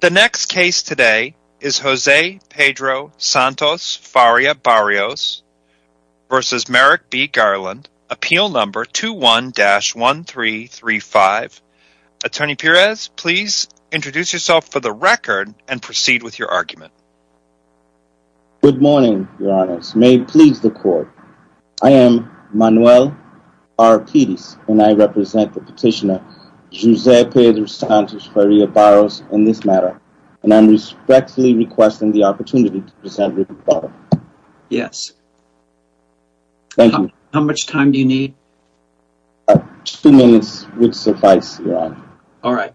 The next case today is Jose Pedro Santos Faria Barros v. Merrick B. Garland, Appeal Number 21-1335. Attorney Perez, please introduce yourself for the record and proceed with your argument. Good morning, Your Honor. May it please the court, I am Manuel R. Pedes and I represent the petitioner Jose Pedro Santos Faria Barros in this matter and I am respectfully requesting the opportunity to present written ballot. Yes. Thank you. How much time do you need? Two minutes would suffice, Your Honor. Alright.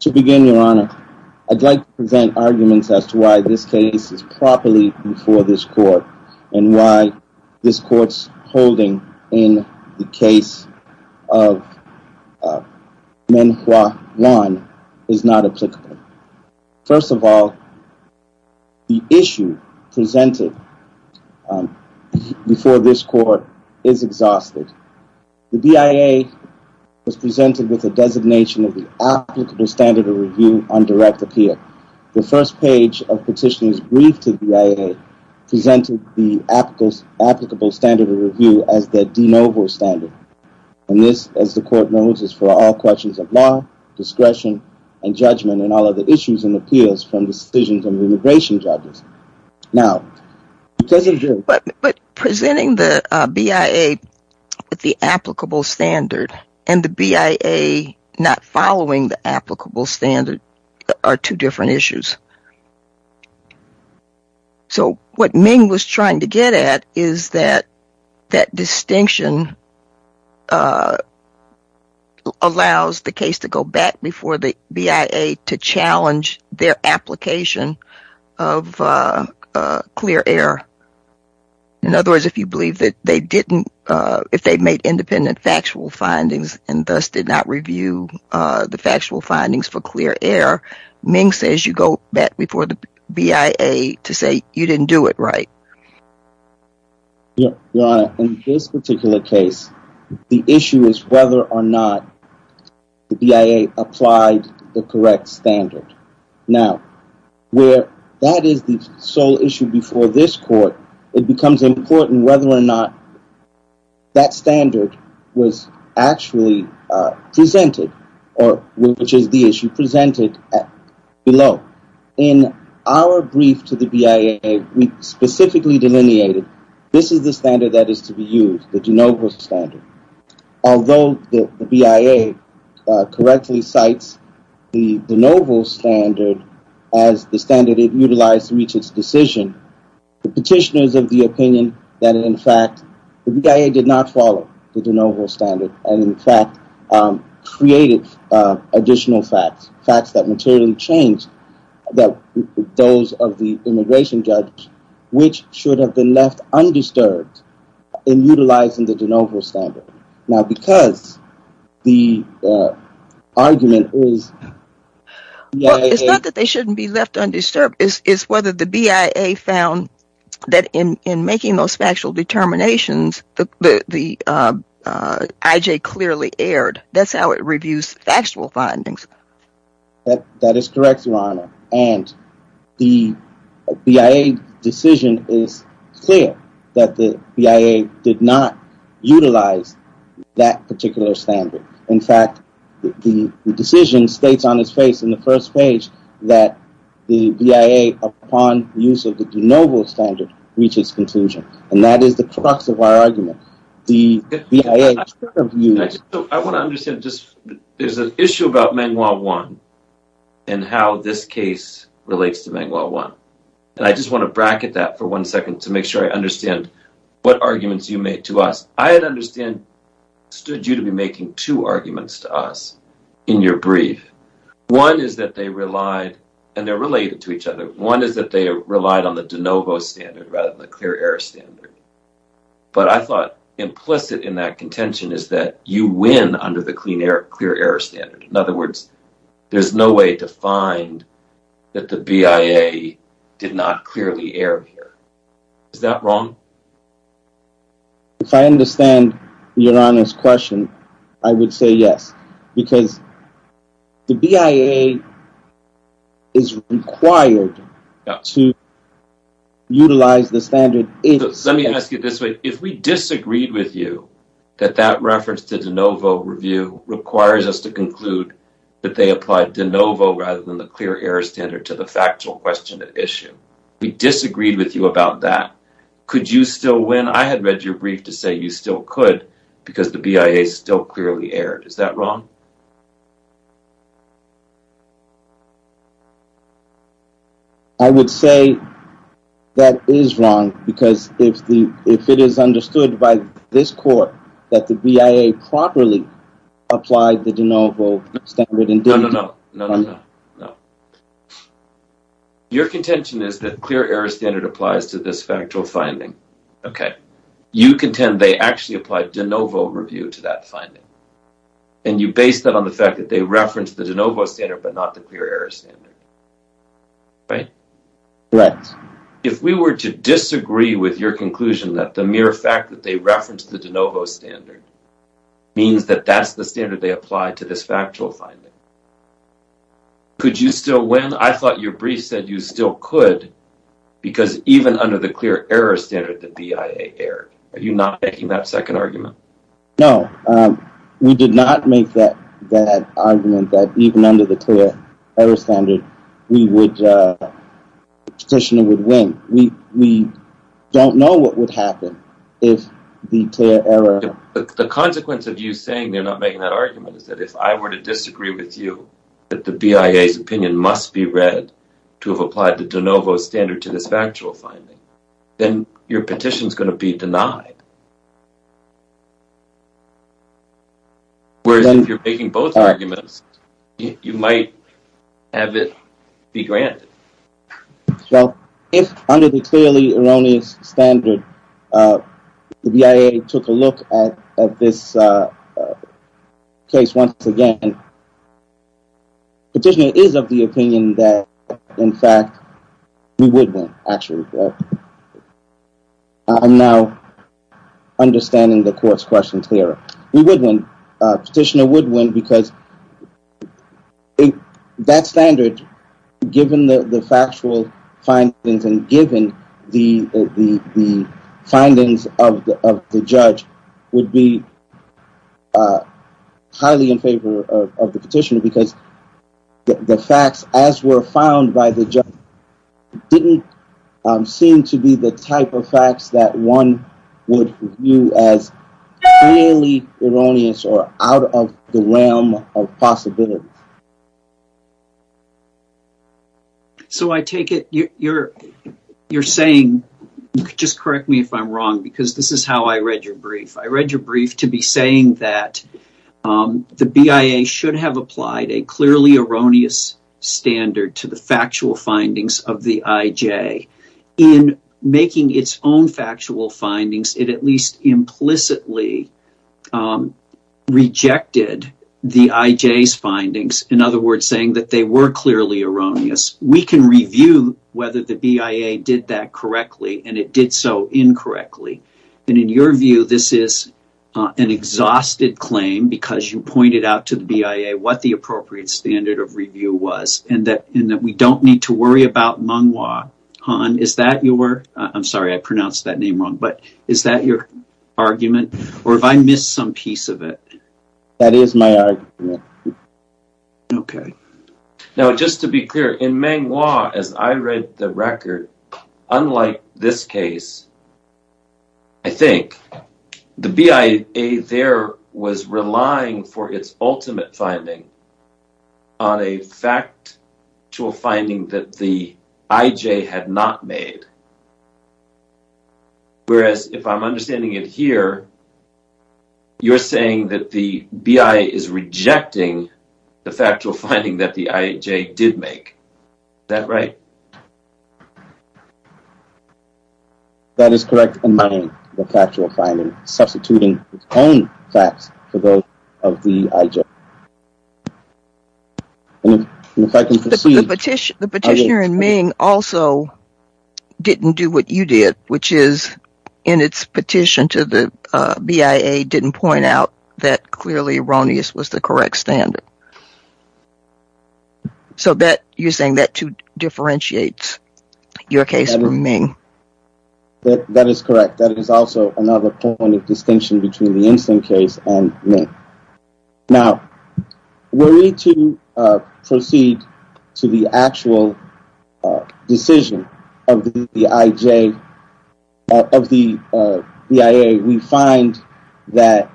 To begin, Your Honor, I'd like to present arguments as to why this case is properly before this court and why this court's holding in the case of Menghua Wan is not applicable. First of all, the issue presented before this court is exhausted. The BIA was presented with a designation of the applicable standard of review on direct appeal. The first page of the petitioner's brief to the BIA presented the applicable standard of review as the de novo standard. And this, as the court knows, is for all questions of law, discretion, and judgment on all other issues and appeals from decisions of immigration judges. But presenting the BIA with the applicable standard and the BIA not following the applicable standard are two different issues. So what Meng was trying to get at is that that distinction allows the case to go back before the BIA to challenge their application of clear air. In other words, if you believe that they didn't, if they made independent factual findings and thus did not review the factual findings for clear air, Meng says you go back before the BIA to say you didn't do it right. Your Honor, in this particular case, the issue is whether or not the BIA applied the correct standard. Now, where that is the sole issue before this court, it becomes important whether or not that standard was actually presented or which is the issue presented below. In our brief to the BIA, we specifically delineated this is the standard that is to be used, the de novo standard. Although the BIA correctly cites the de novo standard as the standard it utilized to reach its decision, the petitioners of the opinion that in fact the BIA did not follow the de novo standard and in fact created additional facts, facts that materially changed those of the immigration judge which should have been left undisturbed in utilizing the de novo standard. Now, because the argument is... Well, it's not that they shouldn't be left undisturbed. It's whether the BIA found that in making those factual determinations, the IJ clearly aired. That's how it reviews factual findings. That is correct, Your Honor, and the BIA decision is clear that the BIA did not utilize that particular standard. In fact, the decision states on its face in the first page that the BIA upon use of the de novo standard reaches conclusion, and that is the crux of our argument. I want to understand. There's an issue about Mangua I and how this case relates to Mangua I. I just want to bracket that for one second to make sure I understand what arguments you made to us. I had understood you to be making two arguments to us in your brief. One is that they relied, and they're related to each other, one is that they relied on the de novo standard rather than the clear air standard. But I thought implicit in that contention is that you win under the clear air standard. In other words, there's no way to find that the BIA did not clearly air here. Is that wrong? If I understand Your Honor's question, I would say yes, because the BIA is required to utilize the standard. Let me ask you this way. If we disagreed with you that that reference to de novo review requires us to conclude that they applied de novo rather than the clear air standard to the factual question at issue, we disagreed with you about that. Could you still win? I had read your brief to say you still could because the BIA still clearly aired. Is that wrong? I would say that is wrong, because if it is understood by this court that the BIA properly applied the de novo standard. No, no, no, no, no, no. Your contention is that clear air standard applies to this factual finding. You contend they actually applied de novo review to that finding, and you base that on the fact that they referenced the de novo standard but not the clear air standard. If we were to disagree with your conclusion that the mere fact that they referenced the de novo standard means that that's the standard they applied to this factual finding, could you still win? Your conclusion, I thought your brief said you still could because even under the clear air standard, the BIA aired. Are you not making that second argument? No, we did not make that argument that even under the clear air standard, we would win. We don't know what would happen if the clear air... The consequence of you saying they're not making that argument is that if I were to disagree with you that the BIA's opinion must be read to have applied the de novo standard to this factual finding, then your petition is going to be denied. Whereas if you're making both arguments, you might have it be granted. Well, if under the clearly erroneous standard, the BIA took a look at this case once again, petitioner is of the opinion that, in fact, we would win, actually. I'm now understanding the court's questions here. We would win. Petitioner would win because that standard, given the factual findings and given the findings of the judge, would be highly in favor of the petitioner because the facts, as were found by the judge, didn't seem to be the type of facts that one would view as clearly erroneous or out of the realm of possibility. So I take it you're saying, just correct me if I'm wrong, because this is how I read your brief. I read your brief to be saying that the BIA should have applied a clearly erroneous standard to the factual findings of the IJ. In making its own factual findings, it at least implicitly rejected the IJ's findings, in other words, saying that they were clearly erroneous. We can review whether the BIA did that correctly and it did so incorrectly. In your view, this is an exhausted claim because you pointed out to the BIA what the appropriate standard of review was and that we don't need to worry about Meng Wah. Han, is that your argument, or have I missed some piece of it? That is my argument. Okay. the factual finding that the IJ did make. Is that right? That is correct in my view, the factual finding, substituting its own facts for those of the IJ. The petitioner in Ming also didn't do what you did, which is, in its petition to the BIA, didn't point out that clearly erroneous was the correct standard. So you're saying that too differentiates your case from Ming. That is correct. That is also another point of distinction between the instant case and Ming. Now, were we to proceed to the actual decision of the BIA, we find that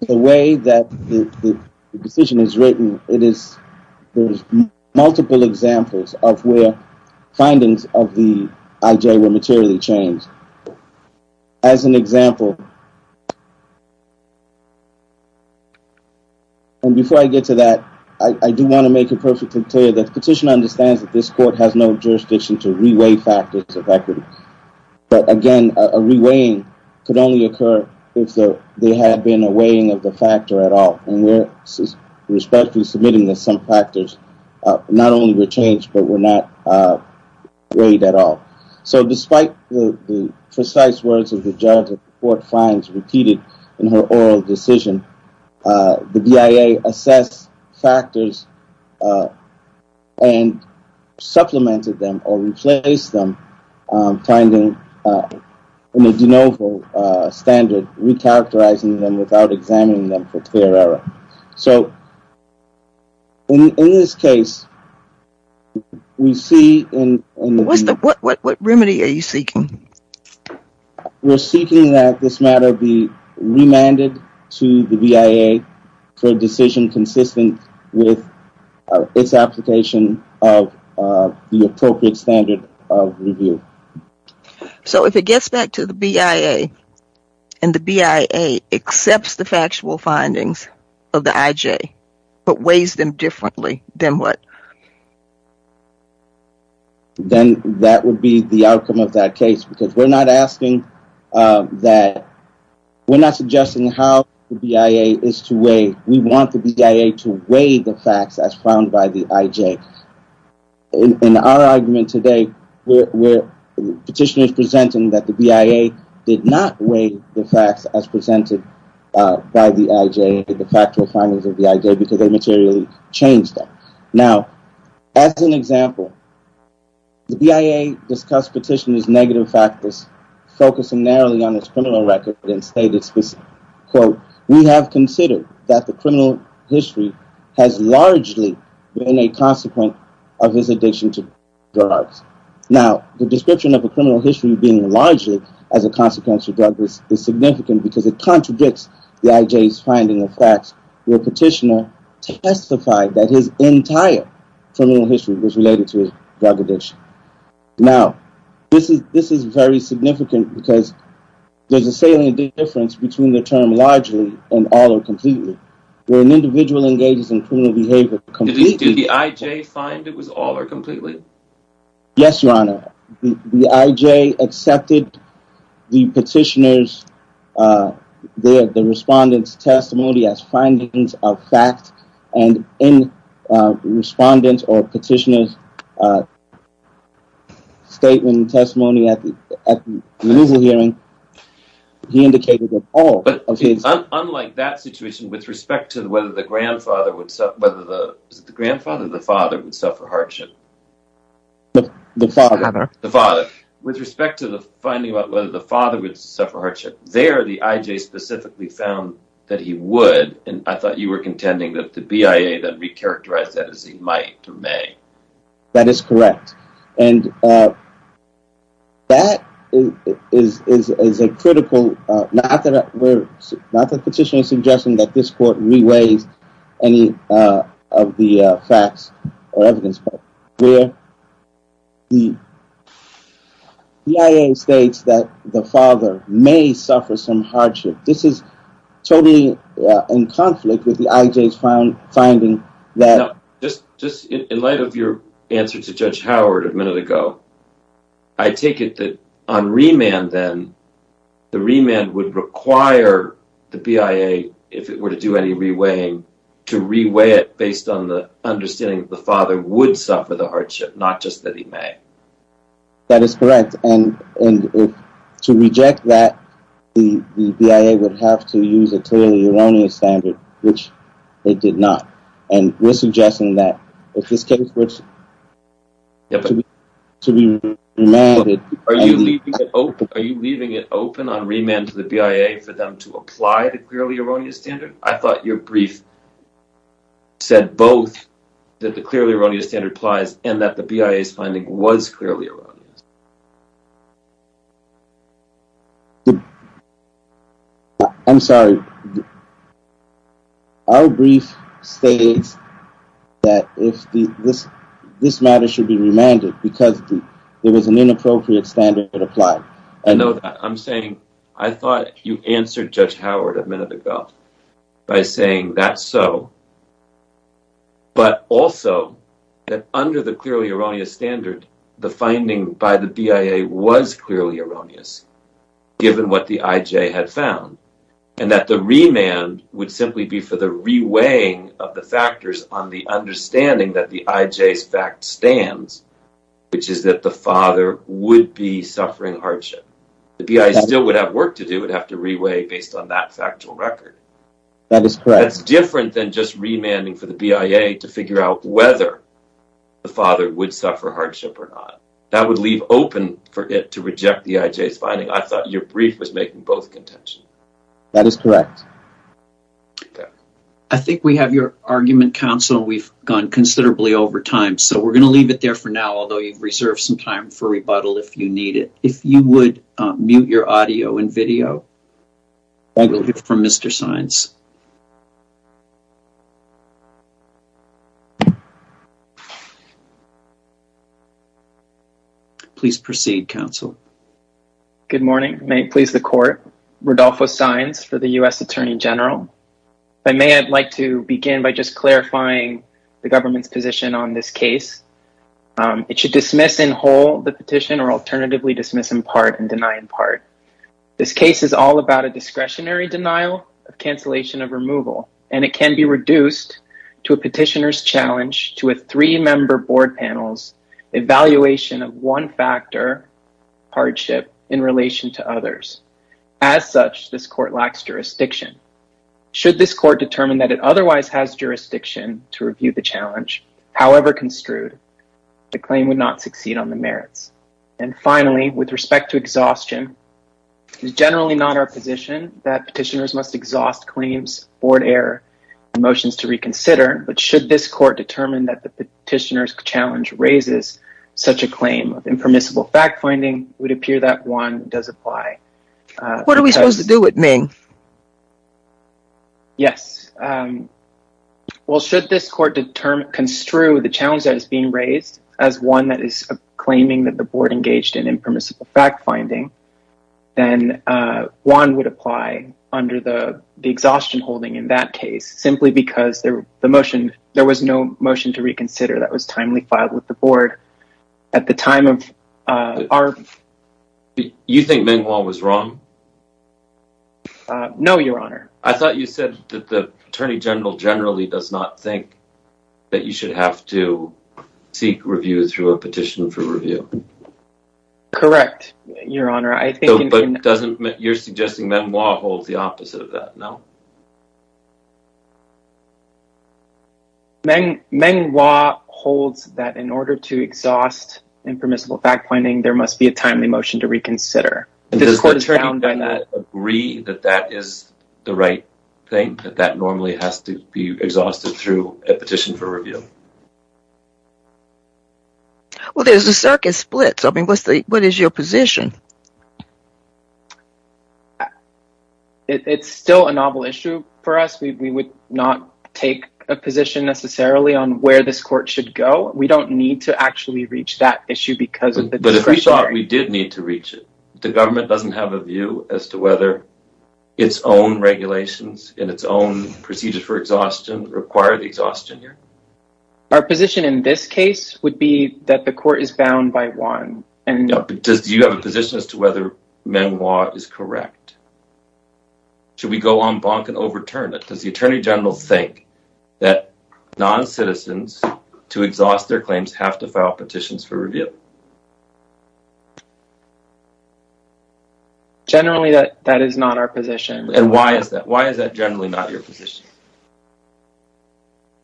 the way that the decision is written, there's multiple examples of where findings of the IJ were materially changed. As an example, and before I get to that, I do want to make it perfectly clear that the petitioner understands that this court has no jurisdiction to re-weigh factors of equity. But again, a re-weighing could only occur if there had been a weighing of the factor at all, and we're respectfully submitting that some factors not only were changed, but were not weighed at all. So despite the precise words of the judge that the court finds repeated in her oral decision, the BIA assessed factors and supplemented them or replaced them, finding a de novo standard, re-characterizing them without examining them for clear error. So, in this case, we see... What remedy are you seeking? We're seeking that this matter be remanded to the BIA for a decision consistent with its application of the appropriate standard of review. So if it gets back to the BIA, and the BIA accepts the factual findings of the IJ, but weighs them differently, then what? Then that would be the outcome of that case, because we're not asking that... We're not suggesting how the BIA is to weigh. We want the BIA to weigh the facts as found by the IJ. In our argument today, petitioners presenting that the BIA did not weigh the facts as presented by the IJ, the factual findings of the IJ, because they materially changed them. Now, as an example, the BIA discussed petitioners' negative factors, focusing narrowly on its criminal record, and stated specifically, Now, the description of a criminal history being largely as a consequence of drug use is significant because it contradicts the IJ's finding of facts, where a petitioner testified that his entire criminal history was related to his drug addiction. Now, this is very significant because there's a salient difference between the term largely and all or completely, where an individual engages in criminal behavior completely... Did the IJ find it was all or completely? Yes, Your Honor. The IJ accepted the petitioner's... the respondent's testimony as findings of facts, and in the respondent's or petitioner's statement and testimony at the removal hearing, he indicated that all of his... The father. The father. With respect to the finding about whether the father would suffer hardship, there the IJ specifically found that he would, and I thought you were contending that the BIA then re-characterized that as he might or may. That is correct, and that is a critical... not that the petitioner is suggesting that this court re-weighs any of the facts or evidence, but where the BIA states that the father may suffer some hardship, this is totally in conflict with the IJ's finding that... Now, just in light of your answer to Judge Howard a minute ago, I take it that on remand then, the remand would require the BIA, if it were to do any re-weighing, to re-weigh it based on the understanding that the father would suffer the hardship, not just that he may. That is correct, and to reject that, the BIA would have to use a clearly erroneous standard, which it did not, and we're suggesting that if this case were to be remanded... I'm sorry, our brief states that this matter should be remanded because there was an inappropriate standard applied. I know that. I'm saying, I thought you answered Judge Howard a minute ago by saying that's so, but also that under the clearly erroneous standard, the finding by the BIA was clearly erroneous, given what the IJ had found, and that the remand would simply be for the re-weighing of the factors on the understanding that the IJ's fact stands, which is that the father would be suffering hardship. The BIA still would have work to do, it would have to re-weigh based on that factual record. That's different than just remanding for the BIA to figure out whether the father would suffer hardship or not. That would leave open for it to reject the IJ's finding. I thought your brief was making both contention. That is correct. I think we have your argument, counsel. We've gone considerably over time, so we're going to leave it there for now, although you've reserved some time for rebuttal if you need it. If you would mute your audio and video from Mr. Saenz. Please proceed, counsel. Good morning. May it please the court. Rodolfo Saenz for the U.S. Attorney General. I may like to begin by just clarifying the government's position on this case. It should dismiss in whole the petition or alternatively dismiss in part and deny in part. This case is all about a discretionary denial of cancellation of removal, and it can be reduced to a petitioner's challenge to a three-member board panel's evaluation of one factor, hardship, in relation to others. As such, this court lacks jurisdiction. Should this court determine that it otherwise has jurisdiction to review the challenge, however construed, the claim would not succeed on the merits. And finally, with respect to exhaustion, it is generally not our position that petitioners must exhaust claims, board error, and motions to reconsider, but should this court determine that the petitioner's challenge raises such a claim of impermissible fact-finding, it would appear that one does apply. What are we supposed to do with Ming? Yes. Well, should this court construe the challenge that is being raised as one that is claiming that the board engaged in impermissible fact-finding, then one would apply under the exhaustion holding in that case, simply because there was no motion to reconsider that was timely filed with the board at the time of our… You think Ming Wong was wrong? No, Your Honor. I thought you said that the Attorney General generally does not think that you should have to seek review through a petition for review. Correct, Your Honor. But you're suggesting Ming Wong holds the opposite of that, no? Ming Wong holds that in order to exhaust impermissible fact-finding, there must be a timely motion to reconsider. Does the court agree that that is the right thing, that that normally has to be exhausted through a petition for review? Well, there's a circuit split, so what is your position? It's still a novel issue for us. We would not take a position necessarily on where this court should go. We don't need to actually reach that issue because of the discretionary… But we thought we did need to reach it. The government doesn't have a view as to whether its own regulations and its own procedures for exhaustion require the exhaustion, Your Honor. Our position in this case would be that the court is bound by one. No, but do you have a position as to whether Ming Wong is correct? Should we go en banc and overturn it? Does the Attorney General think that non-citizens, to exhaust their claims, have to file petitions for review? Generally, that is not our position. And why is that? Why is that generally not your position?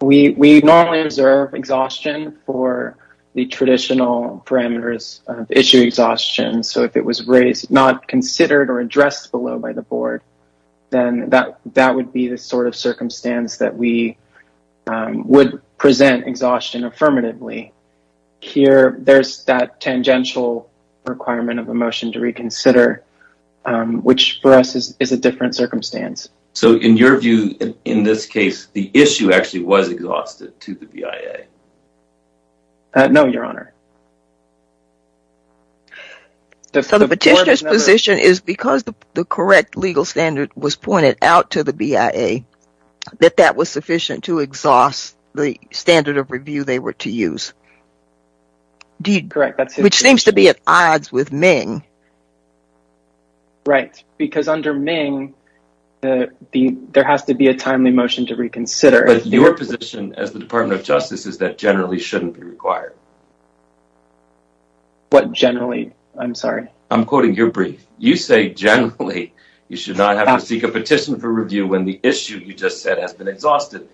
We normally observe exhaustion for the traditional parameters of issue exhaustion, so if it was not considered or addressed below by the board, then that would be the sort of circumstance that we would present exhaustion affirmatively. Here, there's that tangential requirement of a motion to reconsider, which for us is a different circumstance. So in your view, in this case, the issue actually was exhausted to the BIA? No, Your Honor. So the petitioner's position is because the correct legal standard was pointed out to the BIA, that that was sufficient to exhaust the standard of review they were to use, which seems to be at odds with Ming. Right, because under Ming, there has to be a timely motion to reconsider. But your position as the Department of Justice is that generally shouldn't be required. What generally? I'm sorry. I'm quoting your brief. You say generally you should not have to seek a petition for review when the issue you just said has been exhausted.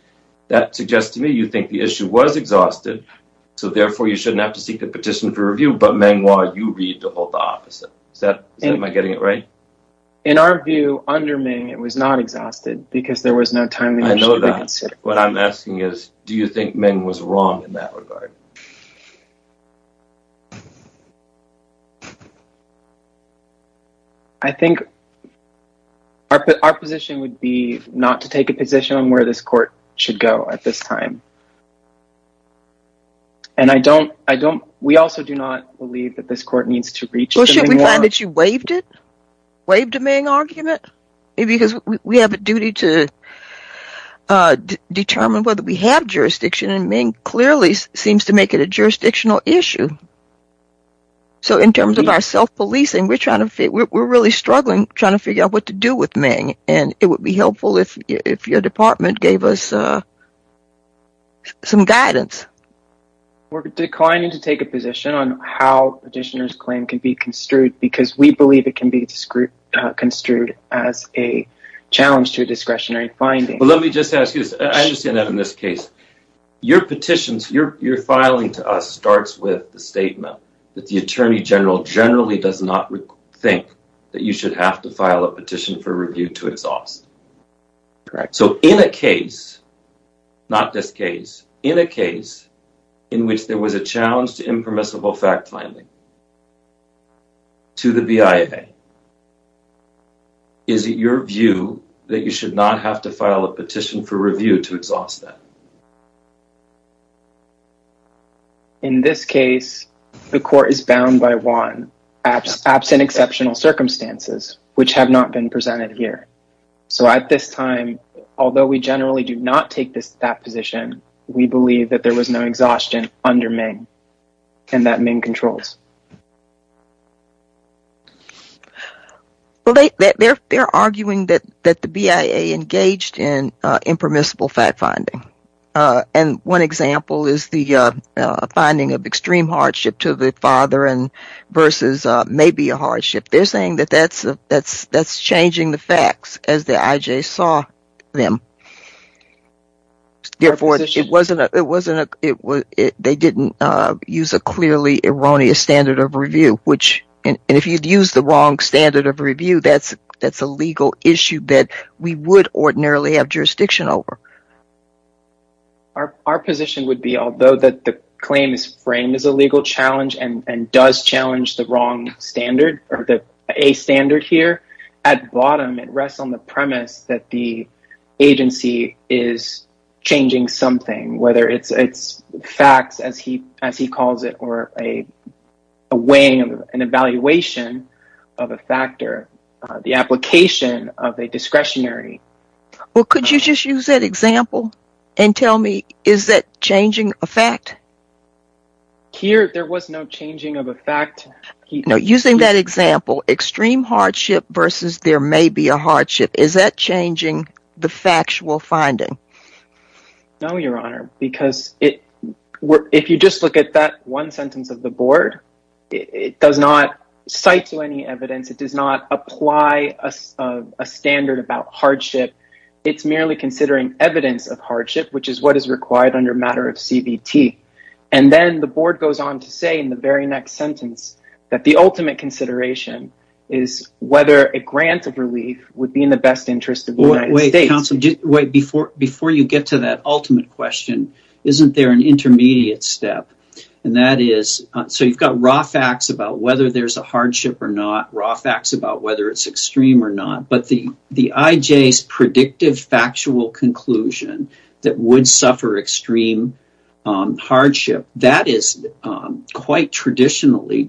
That suggests to me you think the issue was exhausted, so therefore you shouldn't have to seek a petition for review, but Ming Hua, you read the whole opposite. Am I getting it right? In our view, under Ming, it was not exhausted because there was no timely motion to reconsider. I know that. What I'm asking is, do you think Ming was wrong in that regard? I think our position would be not to take a position on where this court should go at this time. And I don't, I don't, we also do not believe that this court needs to reach Ming Hua. Well, should we find that you waived it? Waived a Ming argument? Maybe because we have a duty to determine whether we have jurisdiction, and Ming clearly seems to make it a jurisdictional issue. So in terms of our self-policing, we're really struggling trying to figure out what to do with Ming. And it would be helpful if your department gave us some guidance. We're declining to take a position on how a petitioner's claim can be construed, because we believe it can be construed as a challenge to a discretionary finding. Let me just ask you this. I understand that in this case. Your petitions, your filing to us starts with the statement that the Attorney General generally does not think that you should have to file a petition for review to exhaust. Correct. So in a case, not this case, in a case in which there was a challenge to impermissible fact finding, to the BIA, is it your view that you should not have to file a petition for review to exhaust that? In this case, the court is bound by one, absent exceptional circumstances, which have not been presented here. So at this time, although we generally do not take that position, we believe that there was no exhaustion under Ming, and that Ming controls. Well, they're arguing that the BIA engaged in impermissible fact finding. And one example is the finding of extreme hardship to the father versus maybe a hardship. They're saying that that's changing the facts as the IJ saw them. Therefore, they didn't use a clearly erroneous standard of review. And if you'd used the wrong standard of review, that's a legal issue that we would ordinarily have jurisdiction over. Our position would be, although that the claim is framed as a legal challenge and does challenge the wrong standard or the A standard here, at bottom, it rests on the premise that the agency is changing something, whether it's facts, as he calls it, or a way of an evaluation of a factor, the application of a discretionary. Well, could you just use that example and tell me, is that changing a fact? Here, there was no changing of a fact. No, using that example, extreme hardship versus there may be a hardship. Is that changing the factual finding? No, Your Honor, because if you just look at that one sentence of the board, it does not cite to any evidence. It does not apply a standard about hardship. It's merely considering evidence of hardship, which is what is required under matter of CBT. And then the board goes on to say in the very next sentence that the ultimate consideration is whether a grant of relief would be in the best interest of the United States. Counsel, before you get to that ultimate question, isn't there an intermediate step? And that is, so you've got raw facts about whether there's a hardship or not, raw facts about whether it's extreme or not, but the IJ's predictive factual conclusion that would suffer extreme hardship, that is quite traditionally,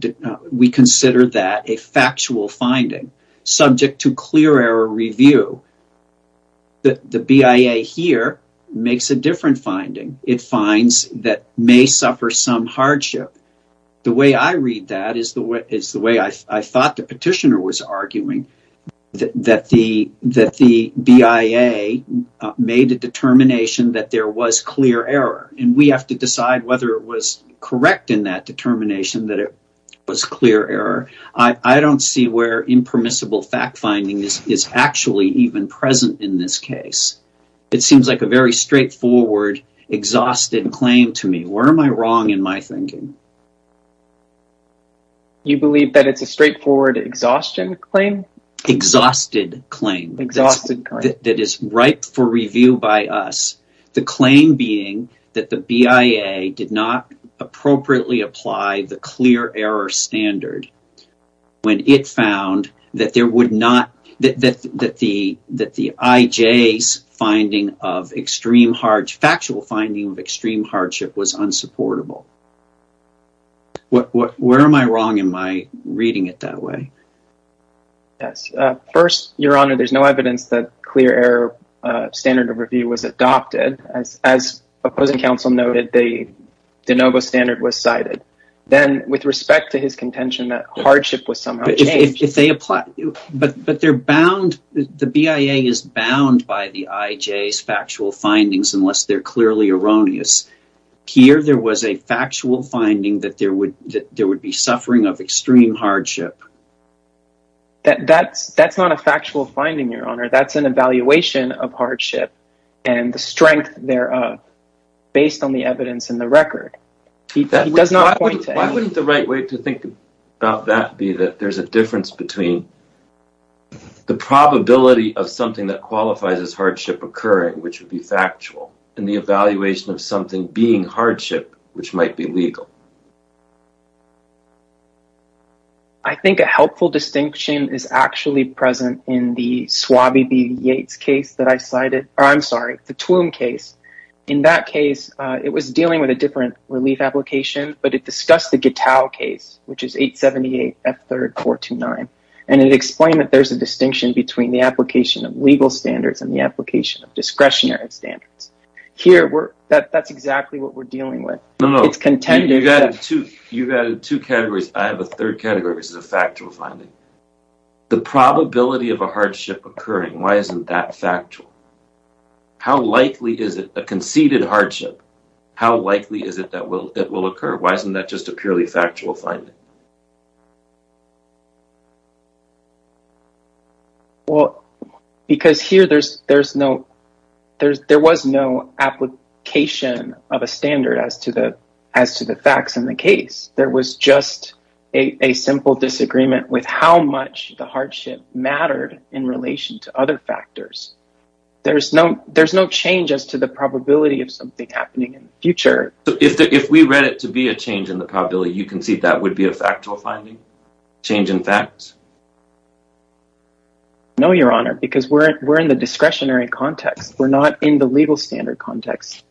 we consider that a factual finding, subject to clear error review. The BIA here makes a different finding. It finds that may suffer some hardship. The way I read that is the way I thought the petitioner was arguing, that the BIA made a determination that there was clear error. And we have to decide whether it was correct in that determination that it was clear error. I don't see where impermissible fact finding is actually even present in this case. It seems like a very straightforward, exhausted claim to me. Where am I wrong in my thinking? You believe that it's a straightforward exhaustion claim? Exhausted claim that is ripe for review by us. The claim being that the BIA did not appropriately apply the clear error standard when it found that the IJ's finding of extreme hardship, factual finding of extreme hardship was unsupportable. Where am I wrong in my reading it that way? First, Your Honor, there's no evidence that clear error standard of review was adopted. As opposing counsel noted, the de novo standard was cited. Then, with respect to his contention that hardship was somehow changed. But they're bound, the BIA is bound by the IJ's factual findings unless they're clearly erroneous. Here there was a factual finding that there would be suffering of extreme hardship. That's not a factual finding, Your Honor. That's an evaluation of hardship and the strength thereof based on the evidence in the record. Why wouldn't the right way to think about that be that there's a difference between the probability of something that qualifies as hardship occurring, which would be factual, and the evaluation of something being hardship, which might be legal? I think a helpful distinction is actually present in the Swabby v. Yates case that I cited, or I'm sorry, the Twum case. In that case, it was dealing with a different relief application, but it discussed the Gittau case, which is 878 F3-429. And it explained that there's a distinction between the application of legal standards and the application of discretionary standards. Here, that's exactly what we're dealing with. No, no. You've added two categories. I have a third category, which is a factual finding. The probability of a hardship occurring, why isn't that factual? How likely is it, a conceded hardship, how likely is it that it will occur? Why isn't that just a purely factual finding? Well, because here there's no… there was no application of a standard as to the facts in the case. There was just a simple disagreement with how much the hardship mattered in relation to other factors. There's no change as to the probability of something happening in the future. So, if we read it to be a change in the probability, you concede that would be a factual finding? Change in facts? No, Your Honor, because we're in the discretionary context. We're not in the legal standard context.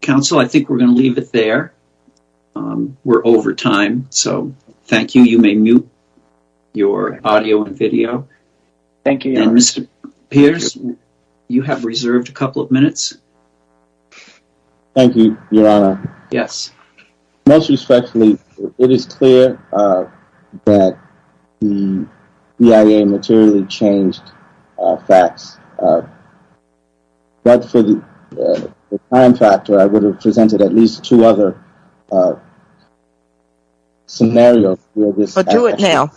Counsel, I think we're going to leave it there. We're over time, so thank you. You may mute your audio and video. Thank you, Your Honor. Mr. Pierce, you have reserved a couple of minutes. Thank you, Your Honor. Yes. Most respectfully, it is clear that the BIA materially changed facts, but for the time factor, I would have presented at least two other scenarios. Do it now.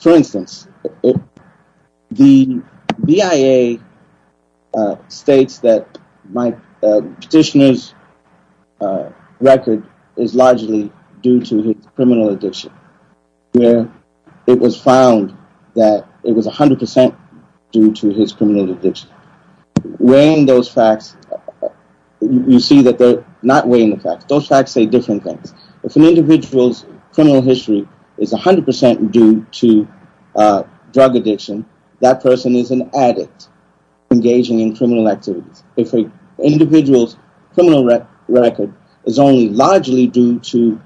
For instance, the BIA states that my petitioner's record is largely due to his criminal addiction, where it was found that it was 100% due to his criminal addiction. Weighing those facts, you see that they're not weighing the facts. Those facts say different things. If an individual's criminal history is 100% due to drug addiction, that person is an addict engaging in criminal activities. If an individual's criminal record is only largely due to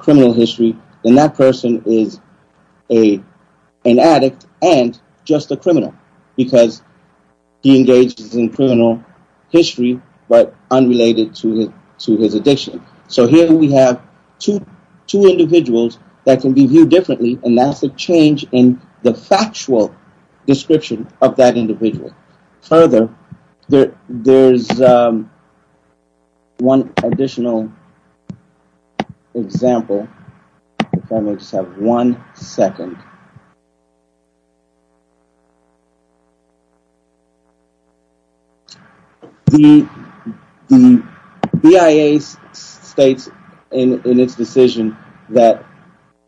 criminal history, then that person is an addict and just a criminal. Because he engages in criminal history, but unrelated to his addiction. So here we have two individuals that can be viewed differently, and that's a change in the factual description of that individual. Further, there's one additional example. If I may just have one second. The BIA states in its decision that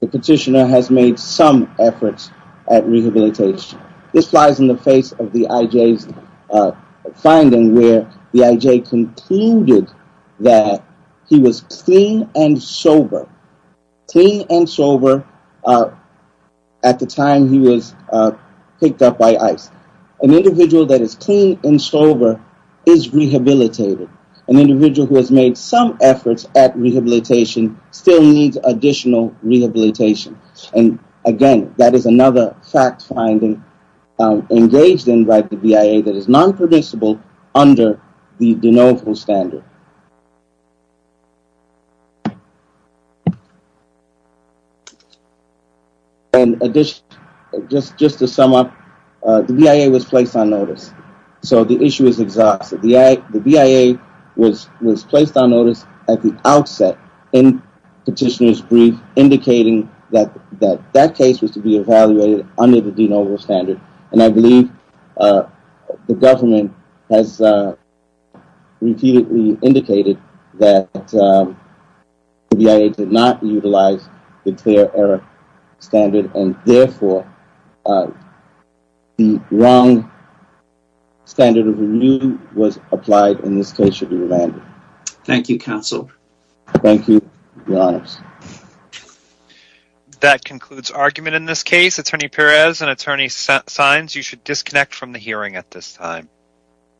the petitioner has made some efforts at rehabilitation. This flies in the face of the IJ's finding where the IJ concluded that he was clean and sober. Clean and sober at the time he was picked up by ICE. An individual that is clean and sober is rehabilitated. An individual who has made some efforts at rehabilitation still needs additional rehabilitation. And again, that is another fact finding engaged in by the BIA that is non-predictable under the de novo standard. In addition, just to sum up, the BIA was placed on notice. So the issue is exhausted. The BIA was placed on notice at the outset in petitioner's brief, indicating that that case was to be evaluated under the de novo standard. And I believe the government has repeatedly indicated that the BIA did not utilize the clear error standard. And therefore, the wrong standard of review was applied in this case should it be remanded. Thank you, counsel. Thank you, your honors. That concludes argument in this case. Attorney Perez and attorney Saenz, you should disconnect from the hearing at this time.